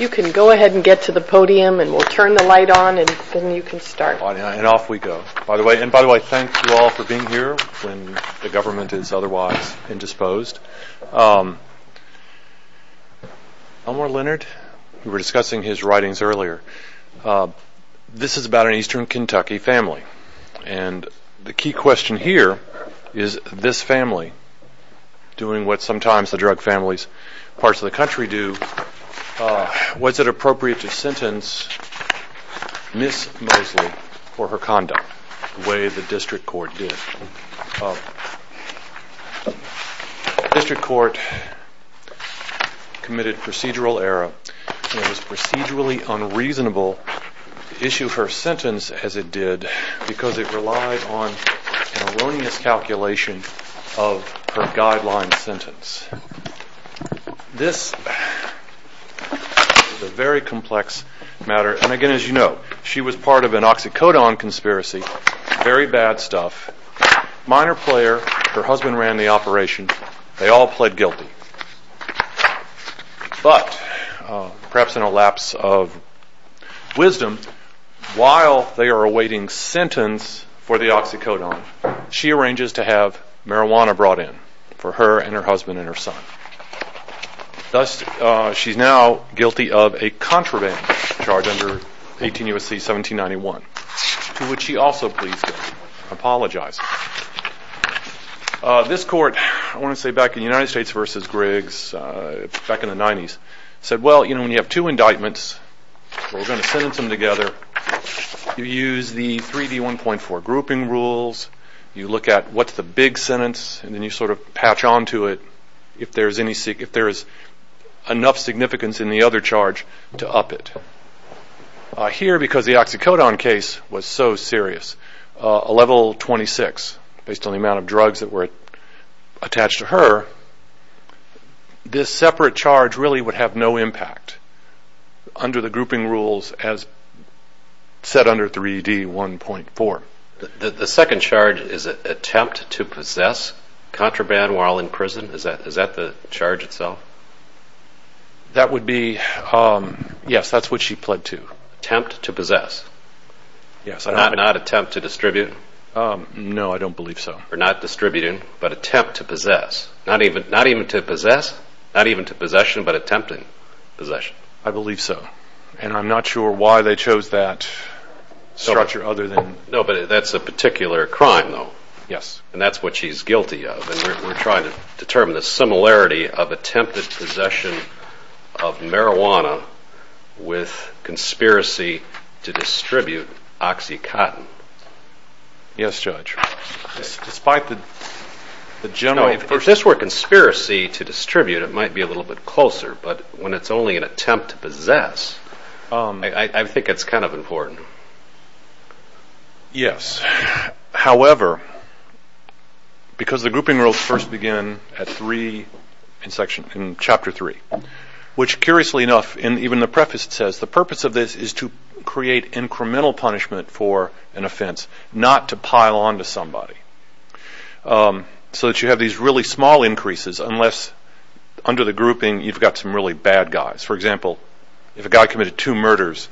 You can go ahead and get to the podium and we'll turn the light on and then you can start. And off we go. And by the way, thank you all for being here when the government is otherwise indisposed. Elmore Leonard, we were discussing his writings earlier. This is about an eastern Kentucky family. And the key question here is this family doing what sometimes the drug families in parts of the country do. Was it appropriate to sentence Ms. Mosley for her conduct the way the district court did? The district court committed procedural error and it was procedurally unreasonable to issue her sentence as it did because it relied on an erroneous calculation of her guideline sentence. This is a very complex matter. And again, as you know, she was part of an oxycodone conspiracy. Very bad stuff. Minor player. Her husband ran the operation. They all pled guilty. But, perhaps in a lapse of wisdom, while they are awaiting sentence for the oxycodone, she arranges to have marijuana brought in for her and her husband and her son. Thus, she's now guilty of a contraband charge under 18 U.S.C. 1791. To which she also pleads guilty. Apologizes. This court, I want to say back in the United States versus Griggs, back in the 90s, said, well, you know, when you have two indictments, we're going to sentence them together. You use the 3D1.4 grouping rules. You look at what's the big sentence and then you sort of patch on to it if there is enough significance in the other charge to up it. Here, because the oxycodone case was so serious, a level 26, based on the amount of drugs that were attached to her, this separate charge really would have no impact under the grouping rules as set under 3D1.4. The second charge is an attempt to possess contraband while in prison. Is that the charge itself? That would be, yes, that's what she pled to. Attempt to possess. Not attempt to distribute. No, I don't believe so. Not distributing, but attempt to possess. Not even to possess, not even to possession, but attempting possession. I believe so. And I'm not sure why they chose that structure other than... No, but that's a particular crime, though. Yes. And that's what she's guilty of, and we're trying to determine the similarity of attempted possession of marijuana with conspiracy to distribute oxycodone. Yes, Judge. Despite the general... If this were conspiracy to distribute, it might be a little bit closer, but when it's only an attempt to possess, I think it's kind of important. Yes. However, because the grouping rules first begin in Chapter 3, which, curiously enough, even the preface says the purpose of this is to create incremental punishment for an offense, not to pile onto somebody, so that you have these really small increases, unless under the grouping you've got some really bad guys. For example, if a guy committed two murders,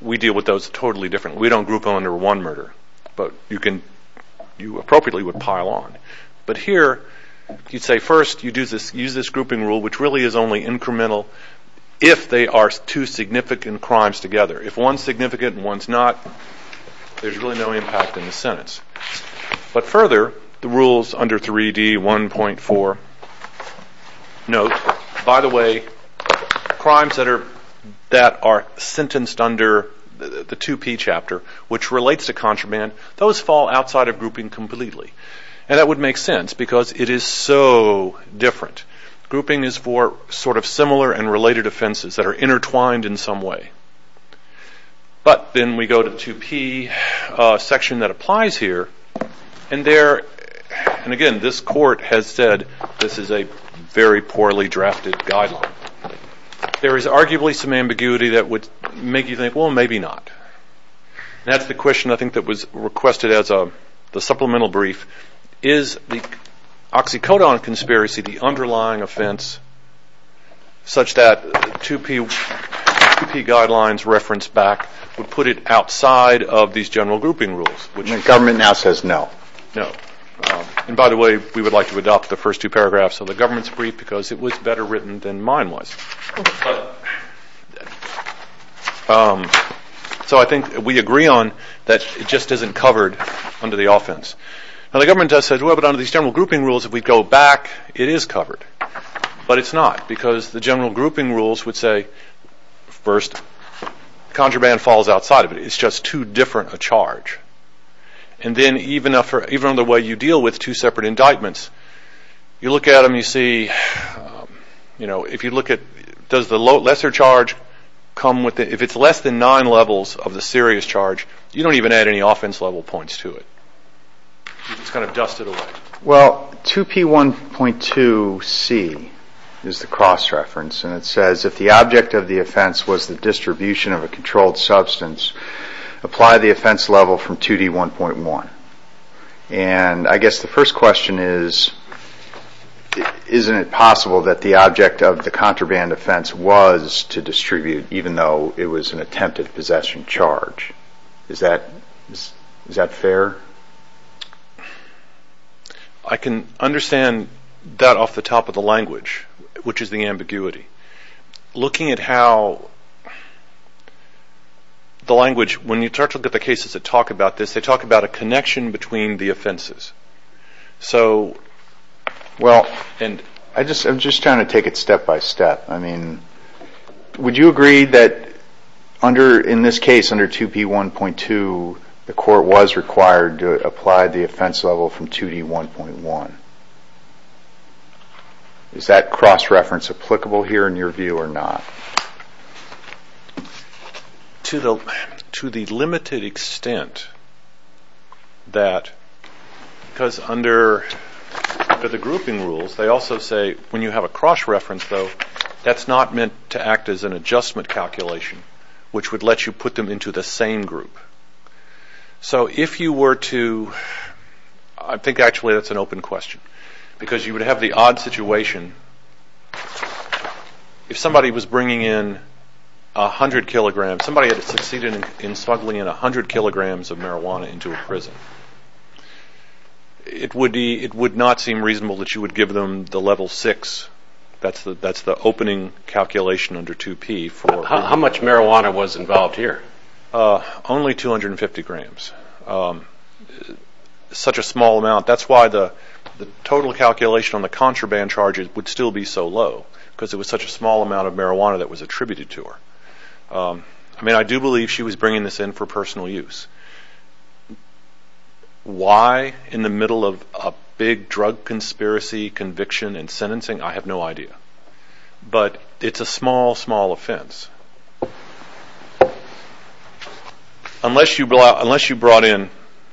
we deal with those totally differently. We don't group them under one murder, but you appropriately would pile on. But here, you'd say first you use this grouping rule, which really is only incremental if they are two significant crimes together. If one's significant and one's not, there's really no impact in the sentence. But further, the rules under 3D1.4 note, by the way, crimes that are sentenced under the 2P chapter, which relates to contraband, those fall outside of grouping completely. And that would make sense, because it is so different. Grouping is for sort of similar and related offenses that are intertwined in some way. But then we go to the 2P section that applies here. And again, this court has said this is a very poorly drafted guideline. There is arguably some ambiguity that would make you think, well, maybe not. That's the question, I think, that was requested as the supplemental brief. Is the oxycodone conspiracy the underlying offense such that 2P guidelines referenced back would put it outside of these general grouping rules? The government now says no. No. And by the way, we would like to adopt the first two paragraphs of the government's brief because it was better written than mine was. So I think we agree on that it just isn't covered under the offense. Now, the government does say, well, but under these general grouping rules, if we go back, it is covered. But it's not, because the general grouping rules would say, first, contraband falls outside of it. It's just too different a charge. And then even in the way you deal with two separate indictments, you look at them, you see, you know, if you look at, does the lesser charge come with it? If it's less than nine levels of the serious charge, you don't even add any offense-level points to it. It's kind of dusted away. Well, 2P1.2C is the cross-reference. And it says, if the object of the offense was the distribution of a controlled substance, apply the offense level from 2D1.1. And I guess the first question is, isn't it possible that the object of the contraband offense was to distribute, even though it was an attempted possession charge? Is that fair? I can understand that off the top of the language, which is the ambiguity. Looking at how the language, when you start to look at the cases that talk about this, they talk about a connection between the offenses. Well, I'm just trying to take it step by step. I mean, would you agree that in this case, under 2P1.2, the court was required to apply the offense level from 2D1.1? Is that cross-reference applicable here in your view or not? To the limited extent that, because under the grouping rules, they also say, when you have a cross-reference, though, that's not meant to act as an adjustment calculation, which would let you put them into the same group. So if you were to, I think actually that's an open question, because you would have the odd situation. If somebody was bringing in 100 kilograms, somebody had succeeded in smuggling in 100 kilograms of marijuana into a prison, it would not seem reasonable that you would give them the level 6. That's the opening calculation under 2P. How much marijuana was involved here? Only 250 grams. Such a small amount. That's why the total calculation on the contraband charges would still be so low, because it was such a small amount of marijuana that was attributed to her. I mean, I do believe she was bringing this in for personal use. Why in the middle of a big drug conspiracy, conviction, and sentencing, I have no idea. But it's a small, small offense. Unless you brought in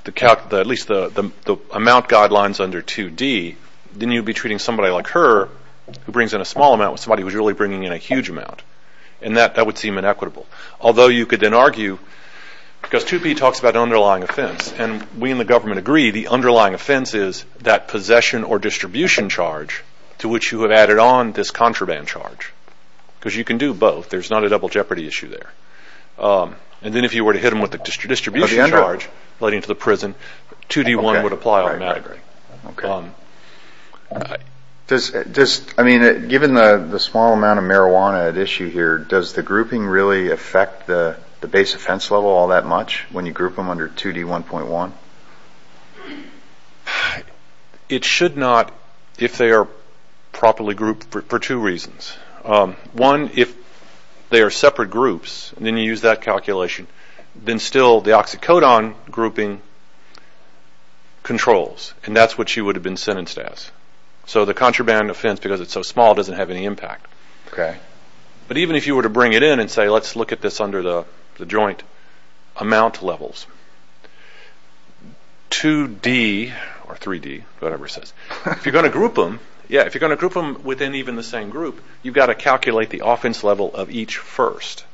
at least the amount guidelines under 2D, then you'd be treating somebody like her who brings in a small amount with somebody who's really bringing in a huge amount, and that would seem inequitable. Although you could then argue, because 2P talks about underlying offense, and we in the government agree the underlying offense is that possession or distribution charge to which you have added on this contraband charge, because you can do both. There's not a double jeopardy issue there. And then if you were to hit them with a distribution charge, let into the prison, 2D-1 would apply automatically. Given the small amount of marijuana at issue here, does the grouping really affect the base offense level all that much when you group them under 2D-1.1? It should not if they are properly grouped for two reasons. One, if they are separate groups, and then you use that calculation, then still the oxycodone grouping controls, and that's what she would have been sentenced as. So the contraband offense, because it's so small, doesn't have any impact. But even if you were to bring it in and say, let's look at this under the joint amount levels, 2D or 3D, whatever it says, if you're going to group them within even the same group, you've got to calculate the offense level of each first.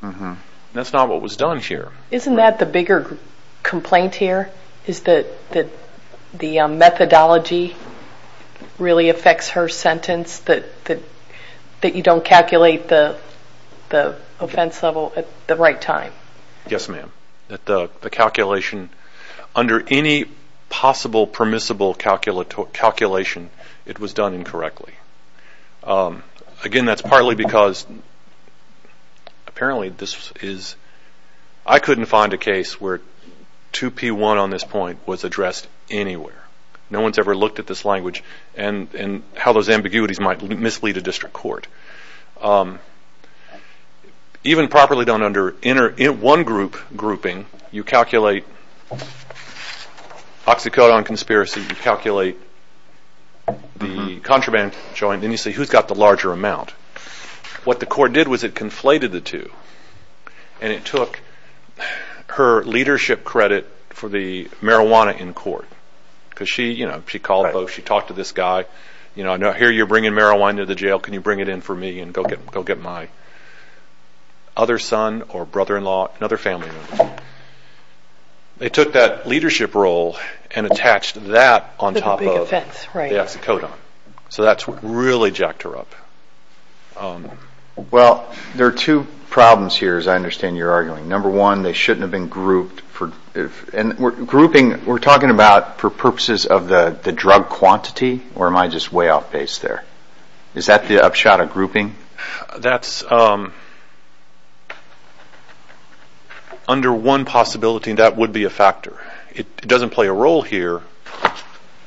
That's not what was done here. Isn't that the bigger complaint here? Is that the methodology really affects her sentence, that you don't calculate the offense level at the right time? Yes, ma'am, that the calculation under any possible permissible calculation, it was done incorrectly. Again, that's partly because apparently this is – I couldn't find a case where 2P-1 on this point was addressed anywhere. No one's ever looked at this language and how those ambiguities might mislead a district court. Even properly done under one group grouping, you calculate oxycodone conspiracy, you calculate the contraband joint, and then you say, who's got the larger amount? What the court did was it conflated the two, and it took her leadership credit for the marijuana in court, because she called folks, she talked to this guy, here you're bringing marijuana to the jail, can you bring it in for me and go get my other son or brother-in-law, another family member. They took that leadership role and attached that on top of the oxycodone. So that's what really jacked her up. Well, there are two problems here, as I understand you're arguing. Number one, they shouldn't have been grouped. Grouping, we're talking about for purposes of the drug quantity, or am I just way off base there? Is that the upshot of grouping? That's under one possibility, and that would be a factor. It doesn't play a role here,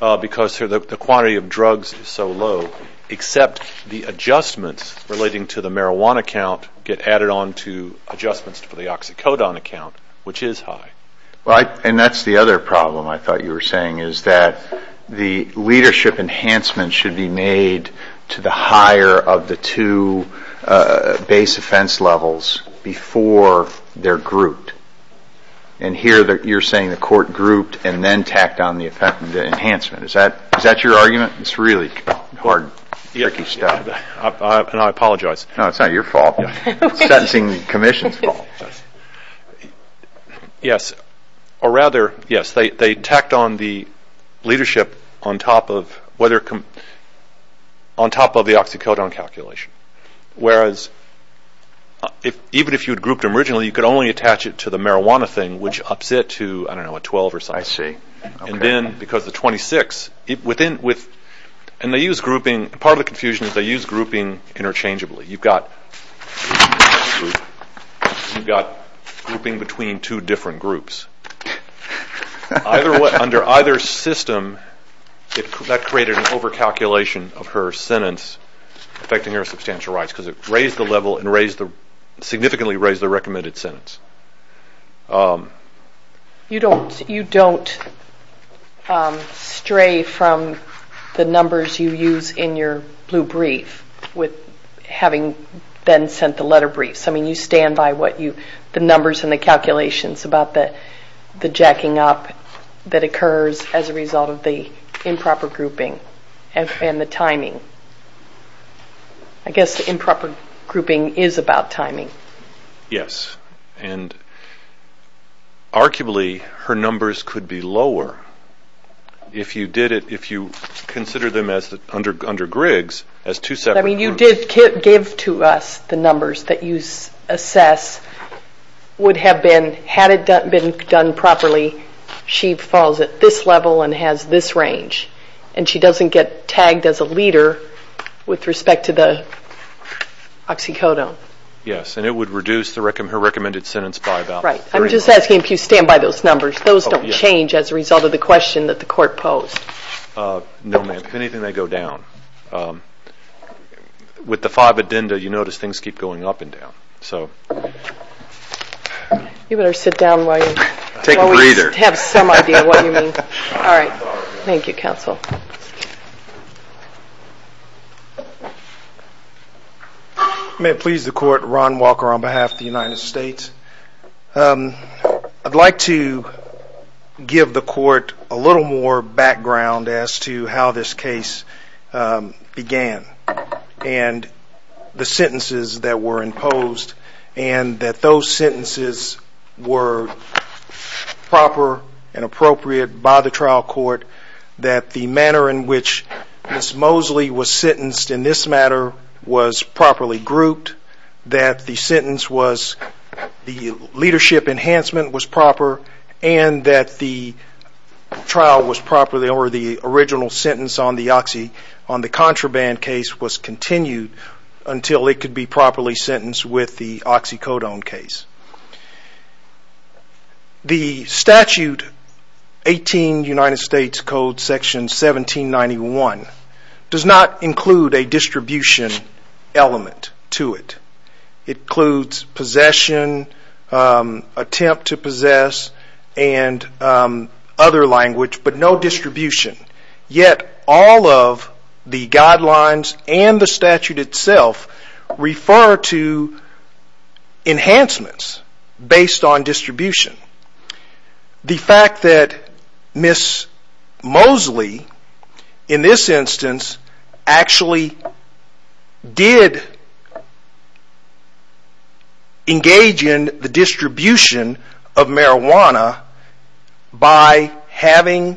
because the quantity of drugs is so low, except the adjustments relating to the marijuana count get added on to adjustments for the oxycodone account, which is high. And that's the other problem I thought you were saying, is that the leadership enhancement should be made to the higher of the two base offense levels before they're grouped. And here you're saying the court grouped and then tacked on the enhancement. Is that your argument? It's really hard, tricky stuff. I apologize. No, it's not your fault. It's the sentencing commission's fault. Yes. Or rather, yes, they tacked on the leadership on top of the oxycodone calculation. Whereas, even if you had grouped them originally, you could only attach it to the marijuana thing, which ups it to, I don't know, a 12 or something. I see. And then, because the 26, and they use grouping, part of the confusion is they use grouping interchangeably. You've got grouping between two different groups. Under either system, that created an over-calculation of her sentence, affecting her substantial rights, because it raised the level and significantly raised the recommended sentence. You don't stray from the numbers you use in your blue brief with having then sent the letter briefs. I mean, you stand by the numbers and the calculations about the jacking up that occurs as a result of the improper grouping and the timing. I guess the improper grouping is about timing. Yes, and arguably, her numbers could be lower if you consider them under Griggs as two separate groups. I mean, you did give to us the numbers that you assess would have been, had it been done properly, she falls at this level and has this range, and she doesn't get tagged as a leader with respect to the oxycodone. Yes, and it would reduce her recommended sentence by about three points. Right. I'm just asking if you stand by those numbers. Those don't change as a result of the question that the court posed. No, ma'am. If anything, they go down. With the five addenda, you notice things keep going up and down. You better sit down while we have some idea what you mean. All right. Thank you, counsel. May it please the court. Ron Walker on behalf of the United States. I'd like to give the court a little more background as to how this case began and the sentences that were imposed and that those sentences were proper and appropriate by the trial court, that the manner in which Ms. Mosley was sentenced in this matter was properly grouped, that the sentence was, the leadership enhancement was proper, and that the trial was proper or the original sentence on the contraband case was continued until it could be properly sentenced with the oxycodone case. The statute, 18 United States Code section 1791, does not include a distribution element to it. It includes possession, attempt to possess, and other language, but no distribution. Yet all of the guidelines and the statute itself refer to enhancements based on distribution. The fact that Ms. Mosley, in this instance, actually did engage in the distribution of marijuana by having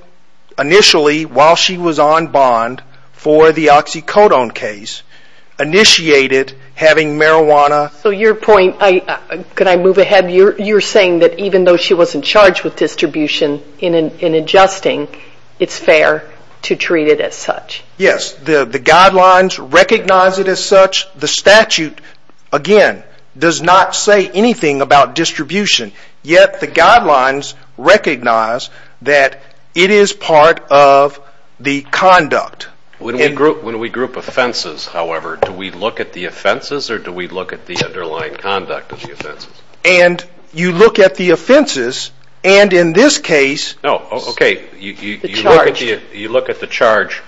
initially, while she was on bond for the oxycodone case, initiated having marijuana. So your point, could I move ahead? You're saying that even though she wasn't charged with distribution in adjusting, it's fair to treat it as such. Yes. The guidelines recognize it as such. The statute, again, does not say anything about distribution. Yet the guidelines recognize that it is part of the conduct. When we group offenses, however, do we look at the offenses or do we look at the underlying conduct of the offenses? And you look at the offenses, and in this case, No, okay, you look at the charge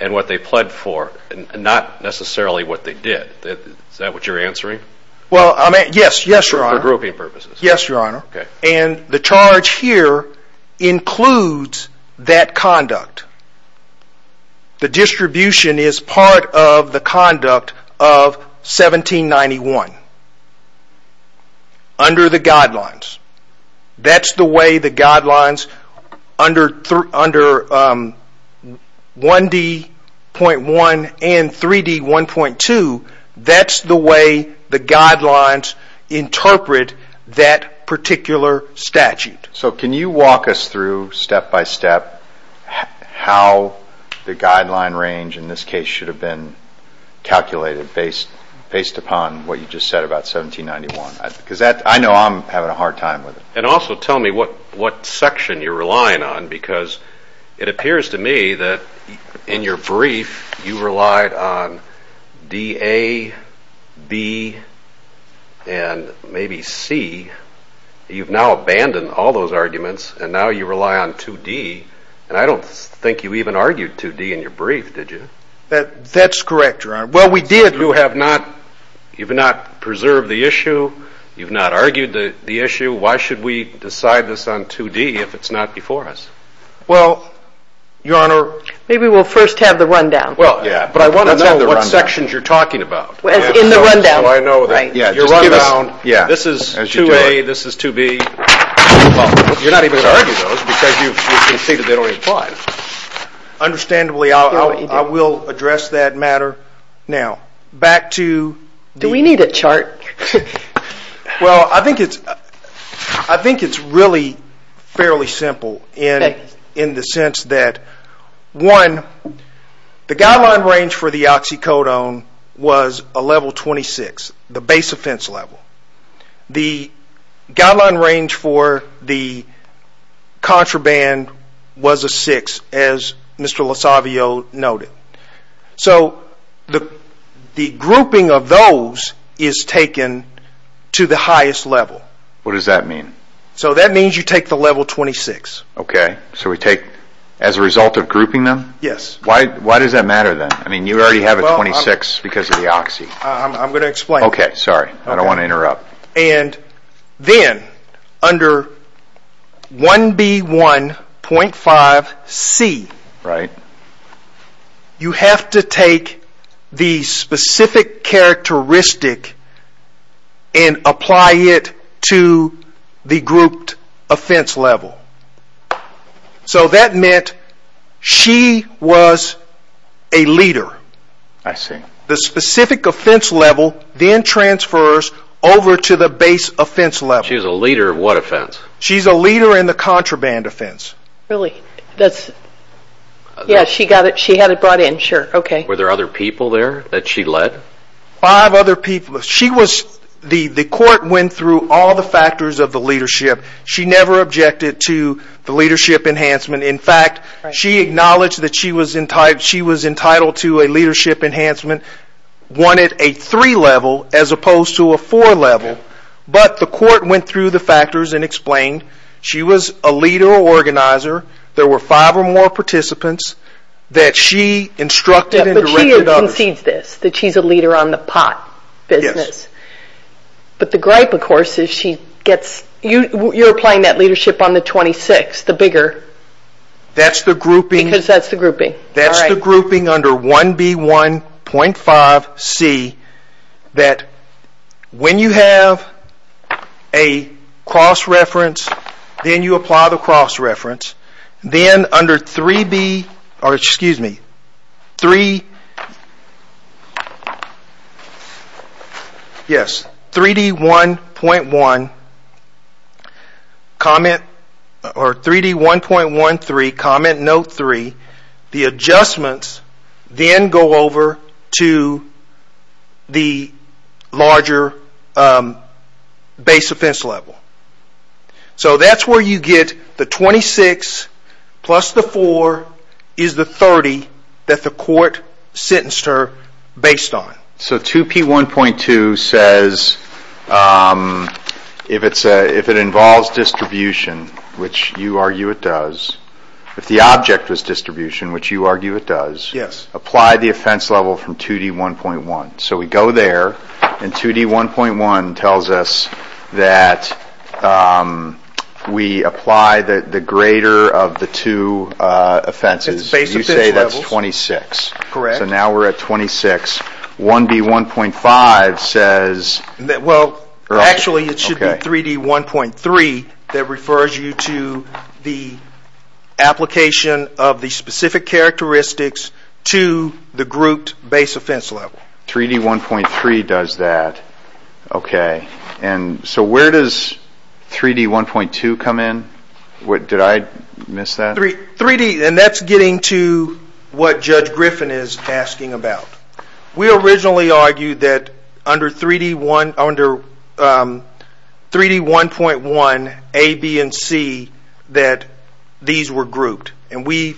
and what they pled for, not necessarily what they did. Is that what you're answering? Well, yes, your honor. For grouping purposes. Yes, your honor. And the charge here includes that conduct. The distribution is part of the conduct of 1791 under the guidelines. That's the way the guidelines under 1D.1 and 3D.1.2, that's the way the guidelines interpret that particular statute. So can you walk us through, step by step, how the guideline range in this case should have been calculated based upon what you just said about 1791? Because I know I'm having a hard time with it. And also tell me what section you're relying on, because it appears to me that in your brief you relied on DA, B, and maybe C. You've now abandoned all those arguments, and now you rely on 2D, and I don't think you even argued 2D in your brief, did you? That's correct, your honor. Well, we did. You have not preserved the issue. You've not argued the issue. Why should we decide this on 2D if it's not before us? Well, your honor. Maybe we'll first have the rundown. But I want to know what sections you're talking about. In the rundown. Your rundown. This is 2A, this is 2B. You're not even going to argue those, because you've conceded they don't even apply. Understandably, I will address that matter now. Back to... Do we need a chart? Well, I think it's really fairly simple in the sense that, one, the guideline range for the oxycodone was a level 26, the base offense level. The guideline range for the contraband was a 6, as Mr. Lasavio noted. So, the grouping of those is taken to the highest level. What does that mean? So that means you take the level 26. Okay. So we take, as a result of grouping them? Yes. Why does that matter then? I mean, you already have a 26 because of the oxy. I'm going to explain. Okay, sorry. I don't want to interrupt. And then, under 1B1.5C, you have to take the specific characteristic and apply it to the grouped offense level. So that meant she was a leader. I see. The specific offense level then transfers over to the base offense level. She was a leader of what offense? She's a leader in the contraband offense. Really? That's... Yeah, she got it. She had it brought in. Sure. Okay. Were there other people there that she led? Five other people. She was... The court went through all the factors of the leadership. She never objected to the leadership enhancement. In fact, she acknowledged that she was entitled to a leadership enhancement, one at a three level as opposed to a four level. But the court went through the factors and explained she was a leader or organizer. There were five or more participants that she instructed and directed others. But she concedes this, that she's a leader on the pot business. Yes. But the gripe, of course, is she gets... You're applying that leadership on the 26, the bigger. That's the grouping... Because that's the grouping. That's the grouping under 1B1.5C that when you have a cross-reference, then you apply the cross-reference. Then under 3D1.13 Comment Note 3, the adjustments then go over to the larger base offense level. So that's where you get the 26 plus the 4 is the 30 that the court sentenced her based on. So 2P1.2 says if it involves distribution, which you argue it does, if the object was distribution, which you argue it does... Yes. Apply the offense level from 2D1.1. So we go there and 2D1.1 tells us that we apply the greater of the two offenses. You say that's 26. Correct. So now we're at 26. 1B1.5 says... Well, actually it should be 3D1.3 that refers you to the application of the specific characteristics to the grouped base offense level. 3D1.3 does that. Okay. So where does 3D1.2 come in? Did I miss that? That's getting to what Judge Griffin is asking about. We originally argued that under 3D1.1A, B, and C that these were grouped. We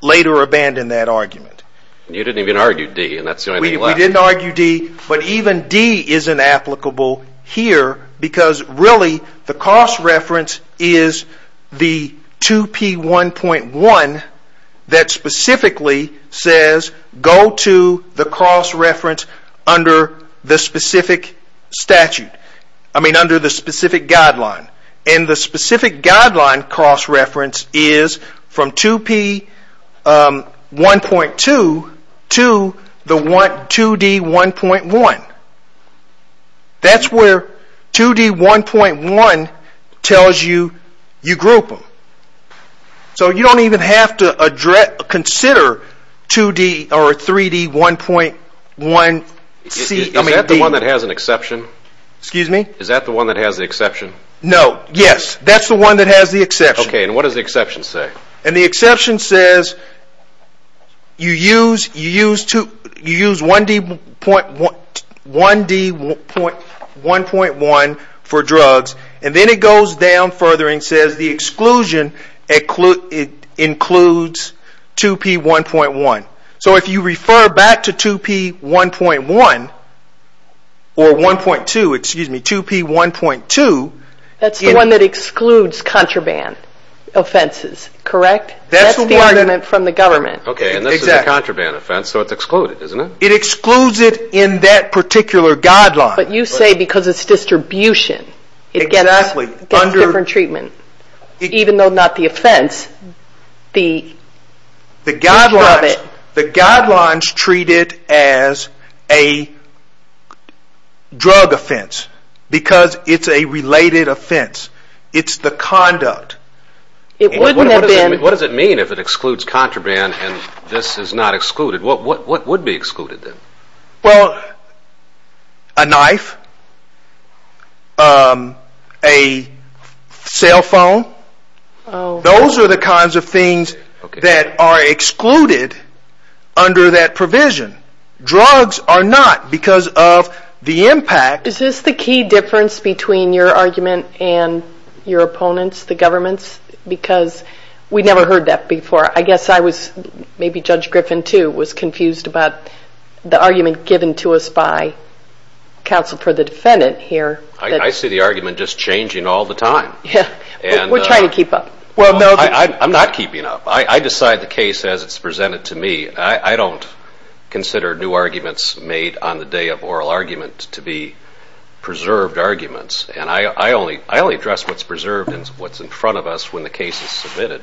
later abandoned that argument. You didn't even argue D, and that's the only thing left. We didn't argue D, but even D isn't applicable here because really the cost reference is the 2P1.1 that specifically says go to the cost reference under the specific guideline. And the specific guideline cost reference is from 2P1.2 to the 2D1.1. That's where 2D1.1 tells you you group them. So you don't even have to consider 3D1.1C. Is that the one that has an exception? Excuse me? Is that the one that has the exception? No. Yes. That's the one that has the exception. Okay. And what does the exception say? And the exception says you use 1D1.1 for drugs, and then it goes down further and says the exclusion includes 2P1.1. So if you refer back to 2P1.1 or 1.2, excuse me, 2P1.2. That's the one that excludes contraband offenses, correct? That's the argument from the government. Okay, and this is a contraband offense, so it's excluded, isn't it? It excludes it in that particular guideline. But you say because it's distribution. Exactly. It gets different treatment. Even though not the offense. The guidelines treat it as a drug offense because it's a related offense. It's the conduct. What does it mean if it excludes contraband and this is not excluded? What would be excluded then? Well, a knife, a cell phone. Those are the kinds of things that are excluded under that provision. Drugs are not because of the impact. Is this the key difference between your argument and your opponent's, the government's? Because we never heard that before. Maybe Judge Griffin, too, was confused about the argument given to us by counsel for the defendant here. I see the argument just changing all the time. We're trying to keep up. I'm not keeping up. I decide the case as it's presented to me. I don't consider new arguments made on the day of oral argument to be preserved arguments, and I only address what's preserved and what's in front of us when the case is submitted.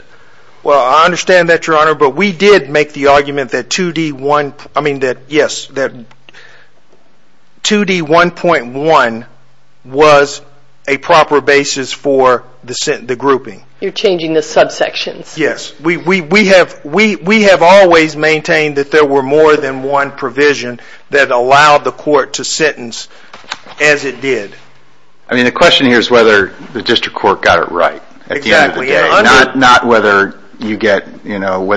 Well, I understand that, Your Honor, but we did make the argument that 2D1.1 was a proper basis for the grouping. You're changing the subsections. Yes. We have always maintained that there were more than one provision that allowed the court to sentence as it did. The question here is whether the district court got it right at the end of the day, not whether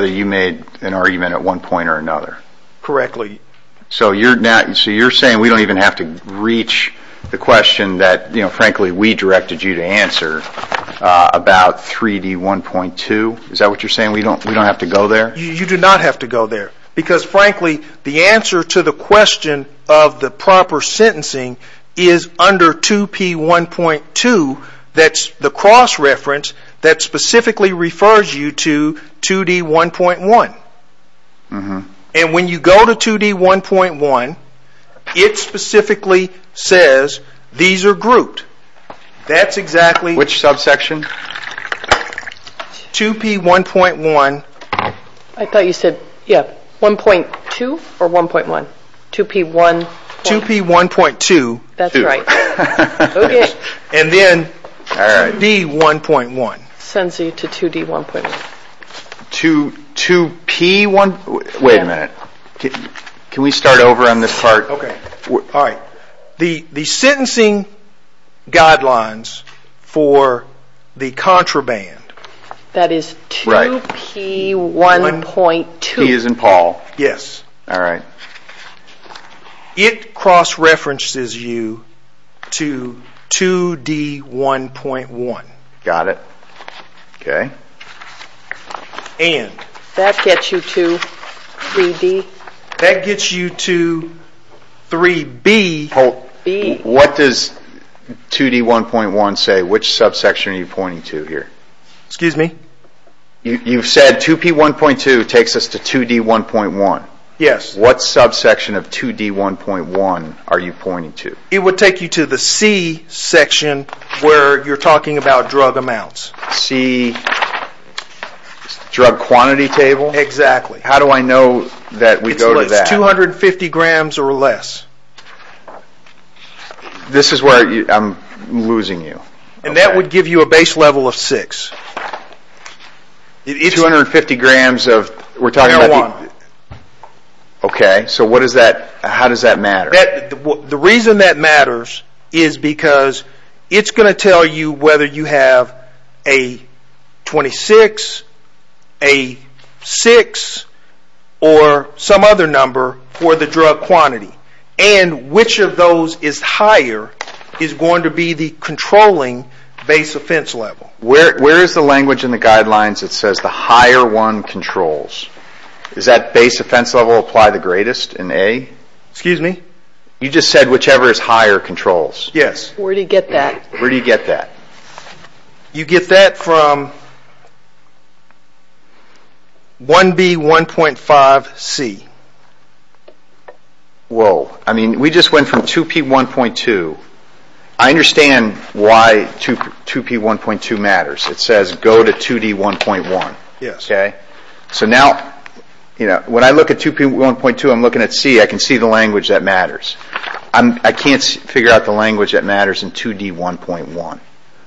you made an argument at one point or another. Correctly. So you're saying we don't even have to reach the question that, frankly, we directed you to answer about 3D1.2? Is that what you're saying? We don't have to go there? You do not have to go there, because, frankly, the answer to the question of the proper sentencing is under 2P1.2. That's the cross-reference that specifically refers you to 2D1.1. And when you go to 2D1.1, it specifically says these are grouped. That's exactly... Which subsection? 2P1.1. I thought you said 1.2 or 1.1? 2P1.2. 2P1.2. That's right. And then 2D1.1. It sends you to 2D1.1. 2P1. Wait a minute. Can we start over on this part? Okay. The sentencing guidelines for the contraband... That is 2P1.2. P as in Paul. Yes. All right. It cross-references you to 2D1.1. Got it. Okay. And... That gets you to 3D... That gets you to 3B. What does 2D1.1 say? Which subsection are you pointing to here? Excuse me? You've said 2P1.2 takes us to 2D1.1. Yes. What subsection of 2D1.1 are you pointing to? It would take you to the C section where you're talking about drug amounts. C, drug quantity table? Exactly. How do I know that we go to that? It's 250 grams or less. This is where I'm losing you. And that would give you a base level of 6. 250 grams of... We're talking about... 3.1. Okay. So what does that... How does that matter? The reason that matters is because it's going to tell you whether you have a 26, a 6, or some other number for the drug quantity. And which of those is higher is going to be the controlling base offense level. Where is the language in the guidelines that says the higher one controls? Does that base offense level apply the greatest in A? Excuse me? You just said whichever is higher controls. Yes. Where do you get that? Where do you get that? You get that from 1B1.5C. Whoa. I mean, we just went from 2P1.2. I understand why 2P1.2 matters. It says go to 2D1.1. Yes. Okay? So now, when I look at 2P1.2, I'm looking at C. I can see the language that matters. I can't figure out the language that matters in 2D1.1.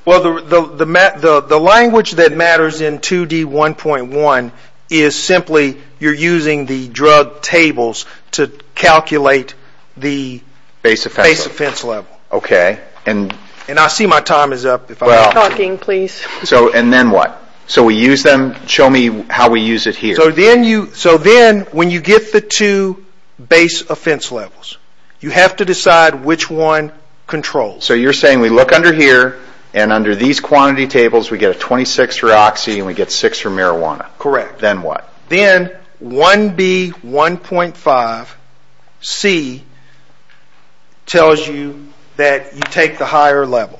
Well, the language that matters in 2D1.1 is simply you're using the drug tables to calculate the base offense level. Okay. And I see my time is up. Well... Talking, please. And then what? So we use them. Show me how we use it here. So then, when you get the two base offense levels, you have to decide which one controls. So you're saying we look under here, and under these quantity tables, we get a 26 for Oxy and we get 6 for Marijuana. Correct. Then what? Then 1B1.5C tells you that you take the higher level.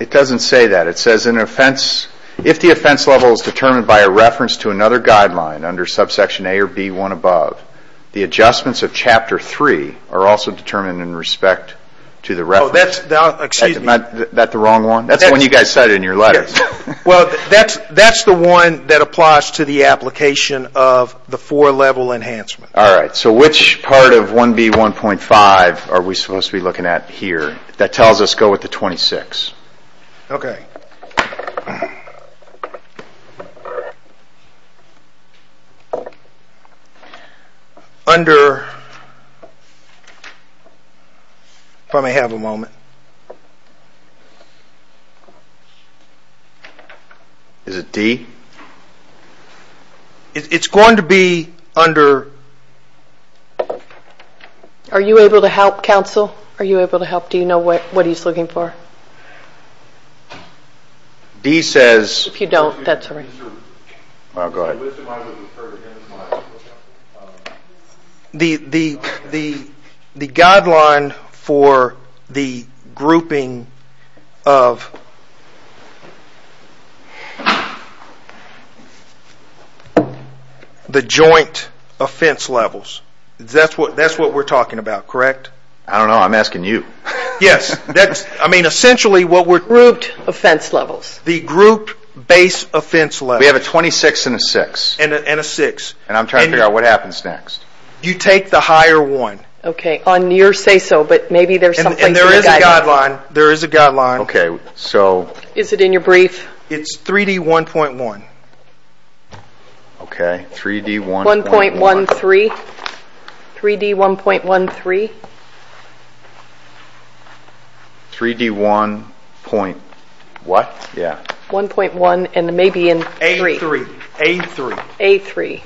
It doesn't say that. It says if the offense level is determined by a reference to another guideline under subsection A or B1 above, the adjustments of Chapter 3 are also determined in respect to the reference. Excuse me. Is that the wrong one? That's the one you guys said in your letter. Well, that's the one that applies to the application of the four-level enhancement. All right. So which part of 1B1.5 are we supposed to be looking at here that tells us go with the 26? Okay. Under, if I may have a moment. Is it D? It's going to be under. Are you able to help, counsel? Are you able to help? Do you know what he's looking for? D says... If you don't, that's all right. Go ahead. The guideline for the grouping of the joint offense levels. That's what we're talking about, correct? I don't know. I'm asking you. Yes. That's, I mean, essentially what we're... Grouped offense levels. The group-based offense levels. We have a 26 and a 6. And a 6. And I'm trying to figure out what happens next. You take the higher one. Okay. On your say-so, but maybe there's something to the guideline. And there is a guideline. There is a guideline. Okay. So... Is it in your brief? It's 3D1.1. Okay. 3D1.1. 1.13. 3D1.13. 3D1.1. What? Yeah. 1.1 and maybe in 3. A3. A3. A3.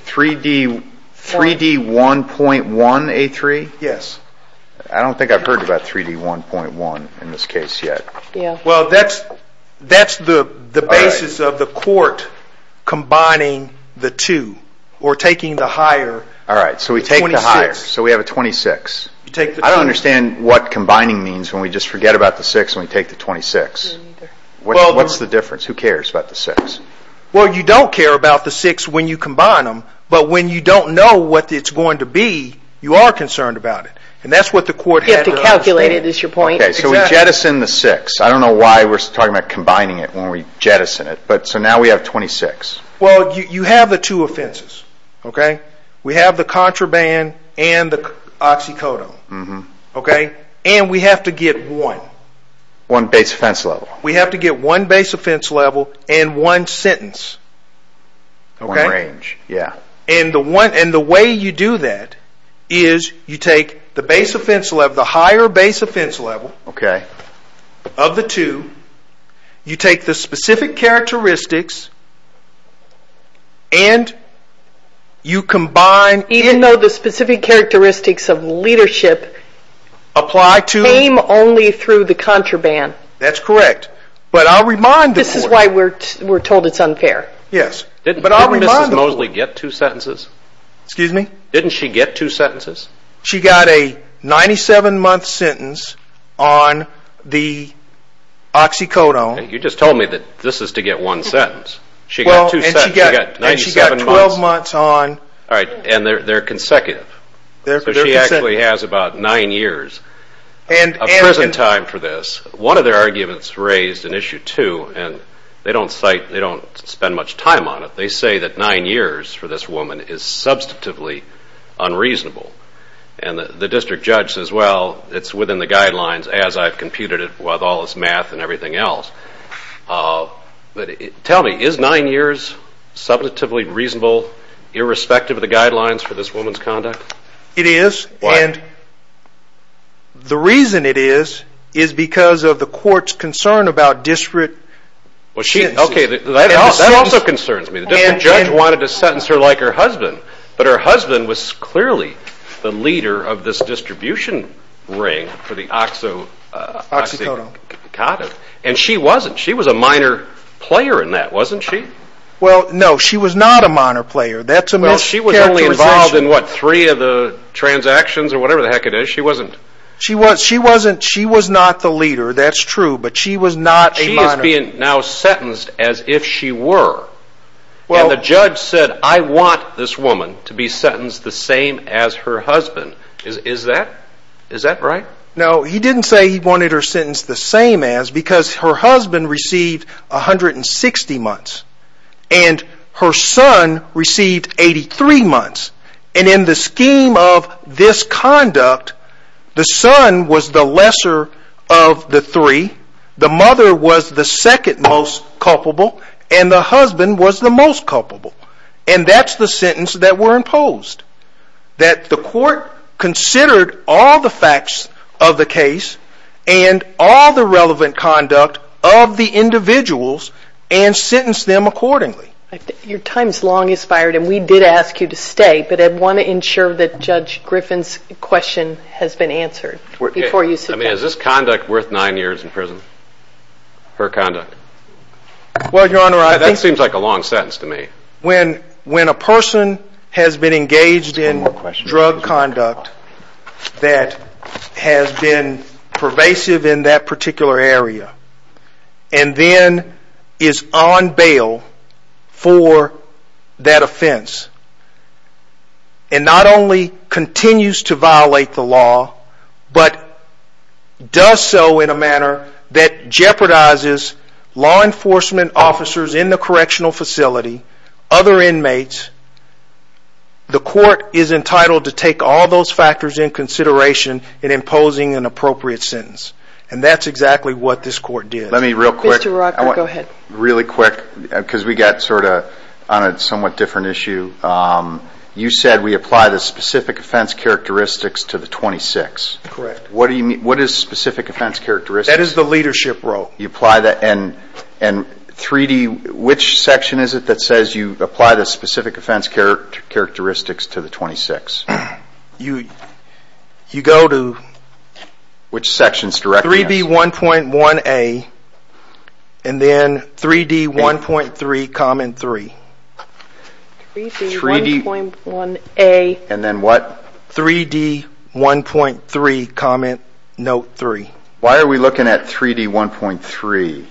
3D1.1. A3? Yes. I don't think I've heard about 3D1.1 in this case yet. Yeah. Well, that's the basis of the court combining the two. You take the higher. 26. All right. All right. All right. All right. All right. All right. All right. All right. All right. All right. Well, I don't understand what combining means when we just forget about the 6 and we take the 26. What's the difference? Who cares about the 6? Well, you don't care about the 6 when you combine them, but when you don't know what it's going to be you are concerned about it. And that's what the court had to understand. You have to calculate it is your point. Exactly. So we jettison the 6. I don't know why we're talking about combining it when we jettison it. But so now we have 26. Well, you have the two offenses. Okay. We have the contraband and the oxycodone. Okay. And we have to get one. One base offense level. We have to get one base offense level and one sentence. Okay. One range. Yeah. And the way you do that is you take the base offense level, the higher base offense level of the two, you take the specific characteristics and you combine. Even though the specific characteristics of leadership came only through the contraband. That's correct. But I'll remind the court. This is why we're told it's unfair. But I'll remind the court. Didn't Mrs. Mosley get two sentences? Excuse me? Didn't she get two sentences? She got a 97-month sentence on the oxycodone. You just told me that this is to get one sentence. She got two sentences. And she got 12 months on. All right. And they're consecutive. So she actually has about nine years of prison time for this. One of their arguments raised in issue two, and they don't spend much time on it, they say that nine years for this woman is substantively unreasonable. And the district judge says, well, it's within the guidelines as I've computed it with all this math and everything else. But tell me, is nine years substantively reasonable irrespective of the guidelines for this woman's conduct? It is. Why? And the reason it is is because of the court's concern about district sentences. Okay, that also concerns me. The district judge wanted to sentence her like her husband. But her husband was clearly the leader of this distribution ring for the oxycodone. And she wasn't. She was a minor player in that, wasn't she? Well, no, she was not a minor player. That's a mischaracterization. Well, she was only involved in, what, three of the transactions or whatever the heck it is. She wasn't. She was not the leader. That's true. But she was not a minor player. She is being now sentenced as if she were. And the judge said, I want this woman to be sentenced the same as her husband. Is that right? No, he didn't say he wanted her sentenced the same as because her husband received 160 months. And her son received 83 months. And in the scheme of this conduct, the son was the lesser of the three. The mother was the second most culpable. And the husband was the most culpable. And that's the sentence that were imposed. That the court considered all the facts of the case and all the relevant conduct of the individuals and sentenced them accordingly. Your time is long expired, and we did ask you to stay. But I want to ensure that Judge Griffin's question has been answered before you sit down. I mean, is this conduct worth nine years in prison, her conduct? Well, Your Honor, I think. That seems like a long sentence to me. When a person has been engaged in drug conduct that has been pervasive in that particular area and then is on bail for that offense, and not only continues to violate the law, but does so in a manner that jeopardizes law enforcement officers in the correctional facility, other inmates, the court is entitled to take all those factors into consideration in imposing an appropriate sentence. And that's exactly what this court did. Let me real quick. Mr. Rucker, go ahead. Really quick, because we got sort of on a somewhat different issue. You said we apply the specific offense characteristics to the 26. Correct. What do you mean? What is specific offense characteristics? That is the leadership role. You apply that. And 3D, which section is it that says you apply the specific offense characteristics to the 26? You go to 3B1.1A, and then 3D1.3, common three. 3D1.1A. And then what? 3D1.3, common note three. Why are we looking at 3D1.3?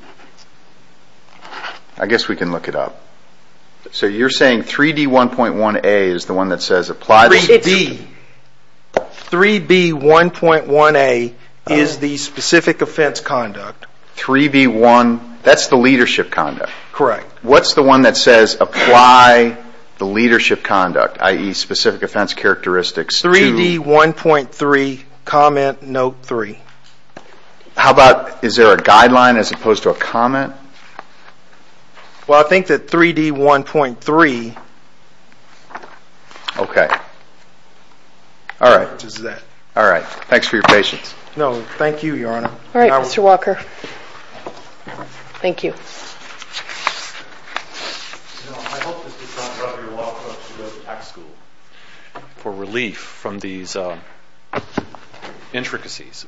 I guess we can look it up. So you're saying 3D1.1A is the one that says apply this? 3B1.1A is the specific offense conduct. 3B1, that's the leadership conduct. Correct. What's the one that says apply the leadership conduct, i.e., specific offense characteristics to? 3D1.3, comment note three. How about is there a guideline as opposed to a comment? Well, I think that 3D1.3. Okay. All right. All right. Thanks for your patience. No, thank you, Your Honor. All right, Mr. Walker. Thank you. You know, I hope this does not rub your walk up to go to tax school for relief from these intricacies.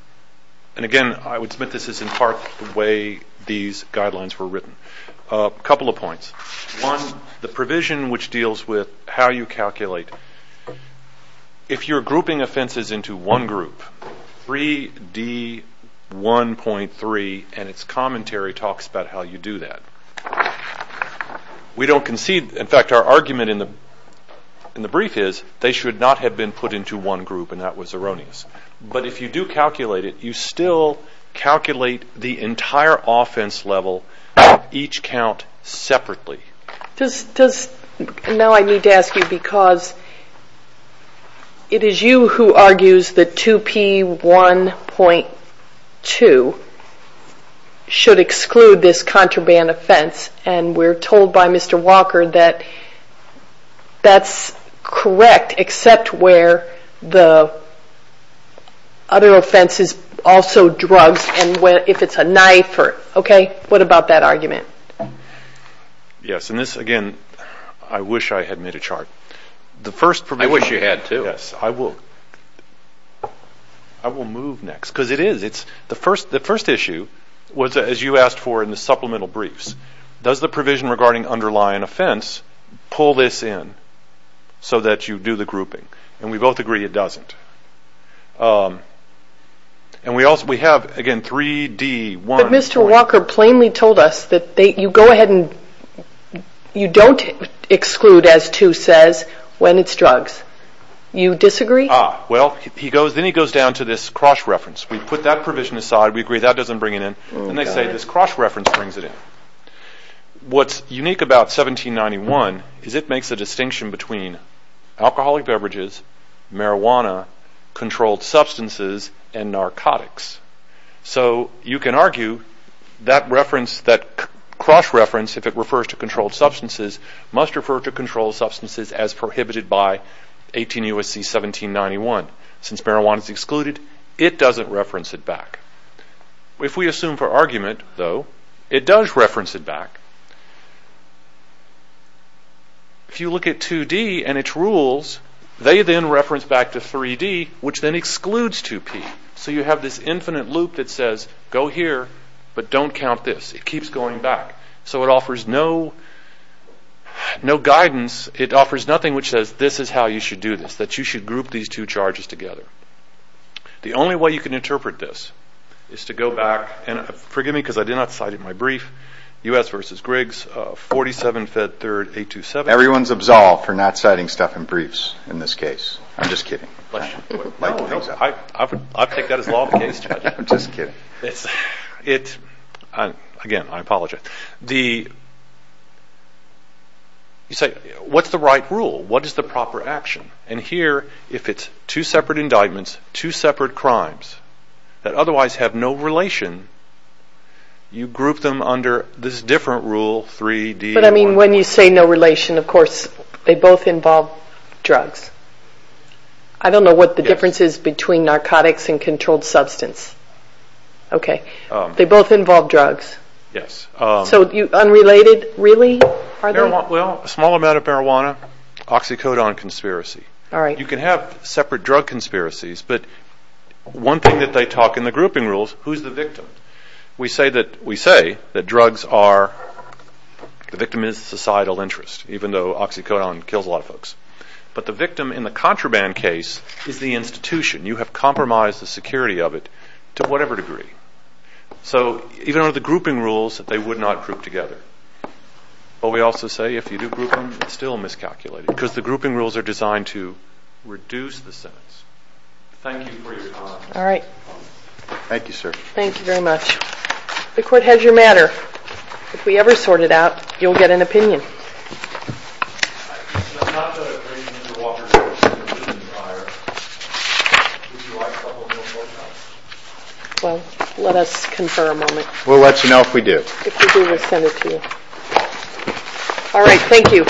And, again, I would submit this is in part the way these guidelines were written. A couple of points. One, the provision which deals with how you calculate, if you're grouping offenses into one group, 3D1.3 and its commentary talks about how you do that. We don't concede. In fact, our argument in the brief is they should not have been put into one group, and that was erroneous. But if you do calculate it, you still calculate the entire offense level of each count separately. Now I need to ask you because it is you who argues that 2P1.2 should exclude this contraband offense, and we're told by Mr. Walker that that's correct except where the other offense is also drugs and if it's a knife. What about that argument? Yes, and this, again, I wish I had made a chart. I wish you had, too. Yes, I will. I will move next because it is. The first issue was, as you asked for in the supplemental briefs, does the provision regarding underlying offense pull this in so that you do the grouping? And we both agree it doesn't. And we have, again, 3D1. But Mr. Walker plainly told us that you go ahead and you don't exclude, as 2 says, when it's drugs. You disagree? Ah, well, then he goes down to this cross-reference. We put that provision aside. We agree that doesn't bring it in, and they say this cross-reference brings it in. What's unique about 1791 is it makes a distinction between alcoholic beverages, marijuana, controlled substances, and narcotics. So you can argue that cross-reference, if it refers to controlled substances, must refer to controlled substances as prohibited by 18 U.S.C. 1791. Since marijuana is excluded, it doesn't reference it back. If we assume for argument, though, it does reference it back. If you look at 2D and its rules, they then reference back to 3D, which then excludes 2P. So you have this infinite loop that says, go here, but don't count this. It keeps going back. So it offers no guidance. It offers nothing which says, this is how you should do this, that you should group these two charges together. The only way you can interpret this is to go back, and forgive me because I did not cite in my brief, U.S. v. Griggs, 47 Fed 3rd 827. Everyone's absolved for not citing stuff in briefs in this case. I'm just kidding. I'll take that as law of the case. I'm just kidding. Again, I apologize. You say, what's the right rule? What is the proper action? And here, if it's two separate indictments, two separate crimes that otherwise have no relation, you group them under this different rule, 3D. But I mean, when you say no relation, of course, they both involve drugs. I don't know what the difference is between narcotics and controlled substance. Okay. They both involve drugs. Yes. So unrelated, really, are they? Well, a small amount of marijuana, oxycodone conspiracy. All right. You can have separate drug conspiracies, but one thing that they talk in the grouping rules, who's the victim? We say that drugs are, the victim is societal interest, even though oxycodone kills a lot of folks. But the victim in the contraband case is the institution. You have compromised the security of it to whatever degree. So even under the grouping rules, they would not group together. But we also say if you do group them, it's still miscalculated, because the grouping rules are designed to reduce the sentence. Thank you for your comments. All right. Thank you, sir. Thank you very much. The Court has your matter. If we ever sort it out, you'll get an opinion. It's not that I'm bringing you to the water to get an opinion, Your Honor. Would you like a couple of minutes more time? Well, let us confer a moment. We'll let you know if we do. If we do, we'll send it to you. All right. Thank you.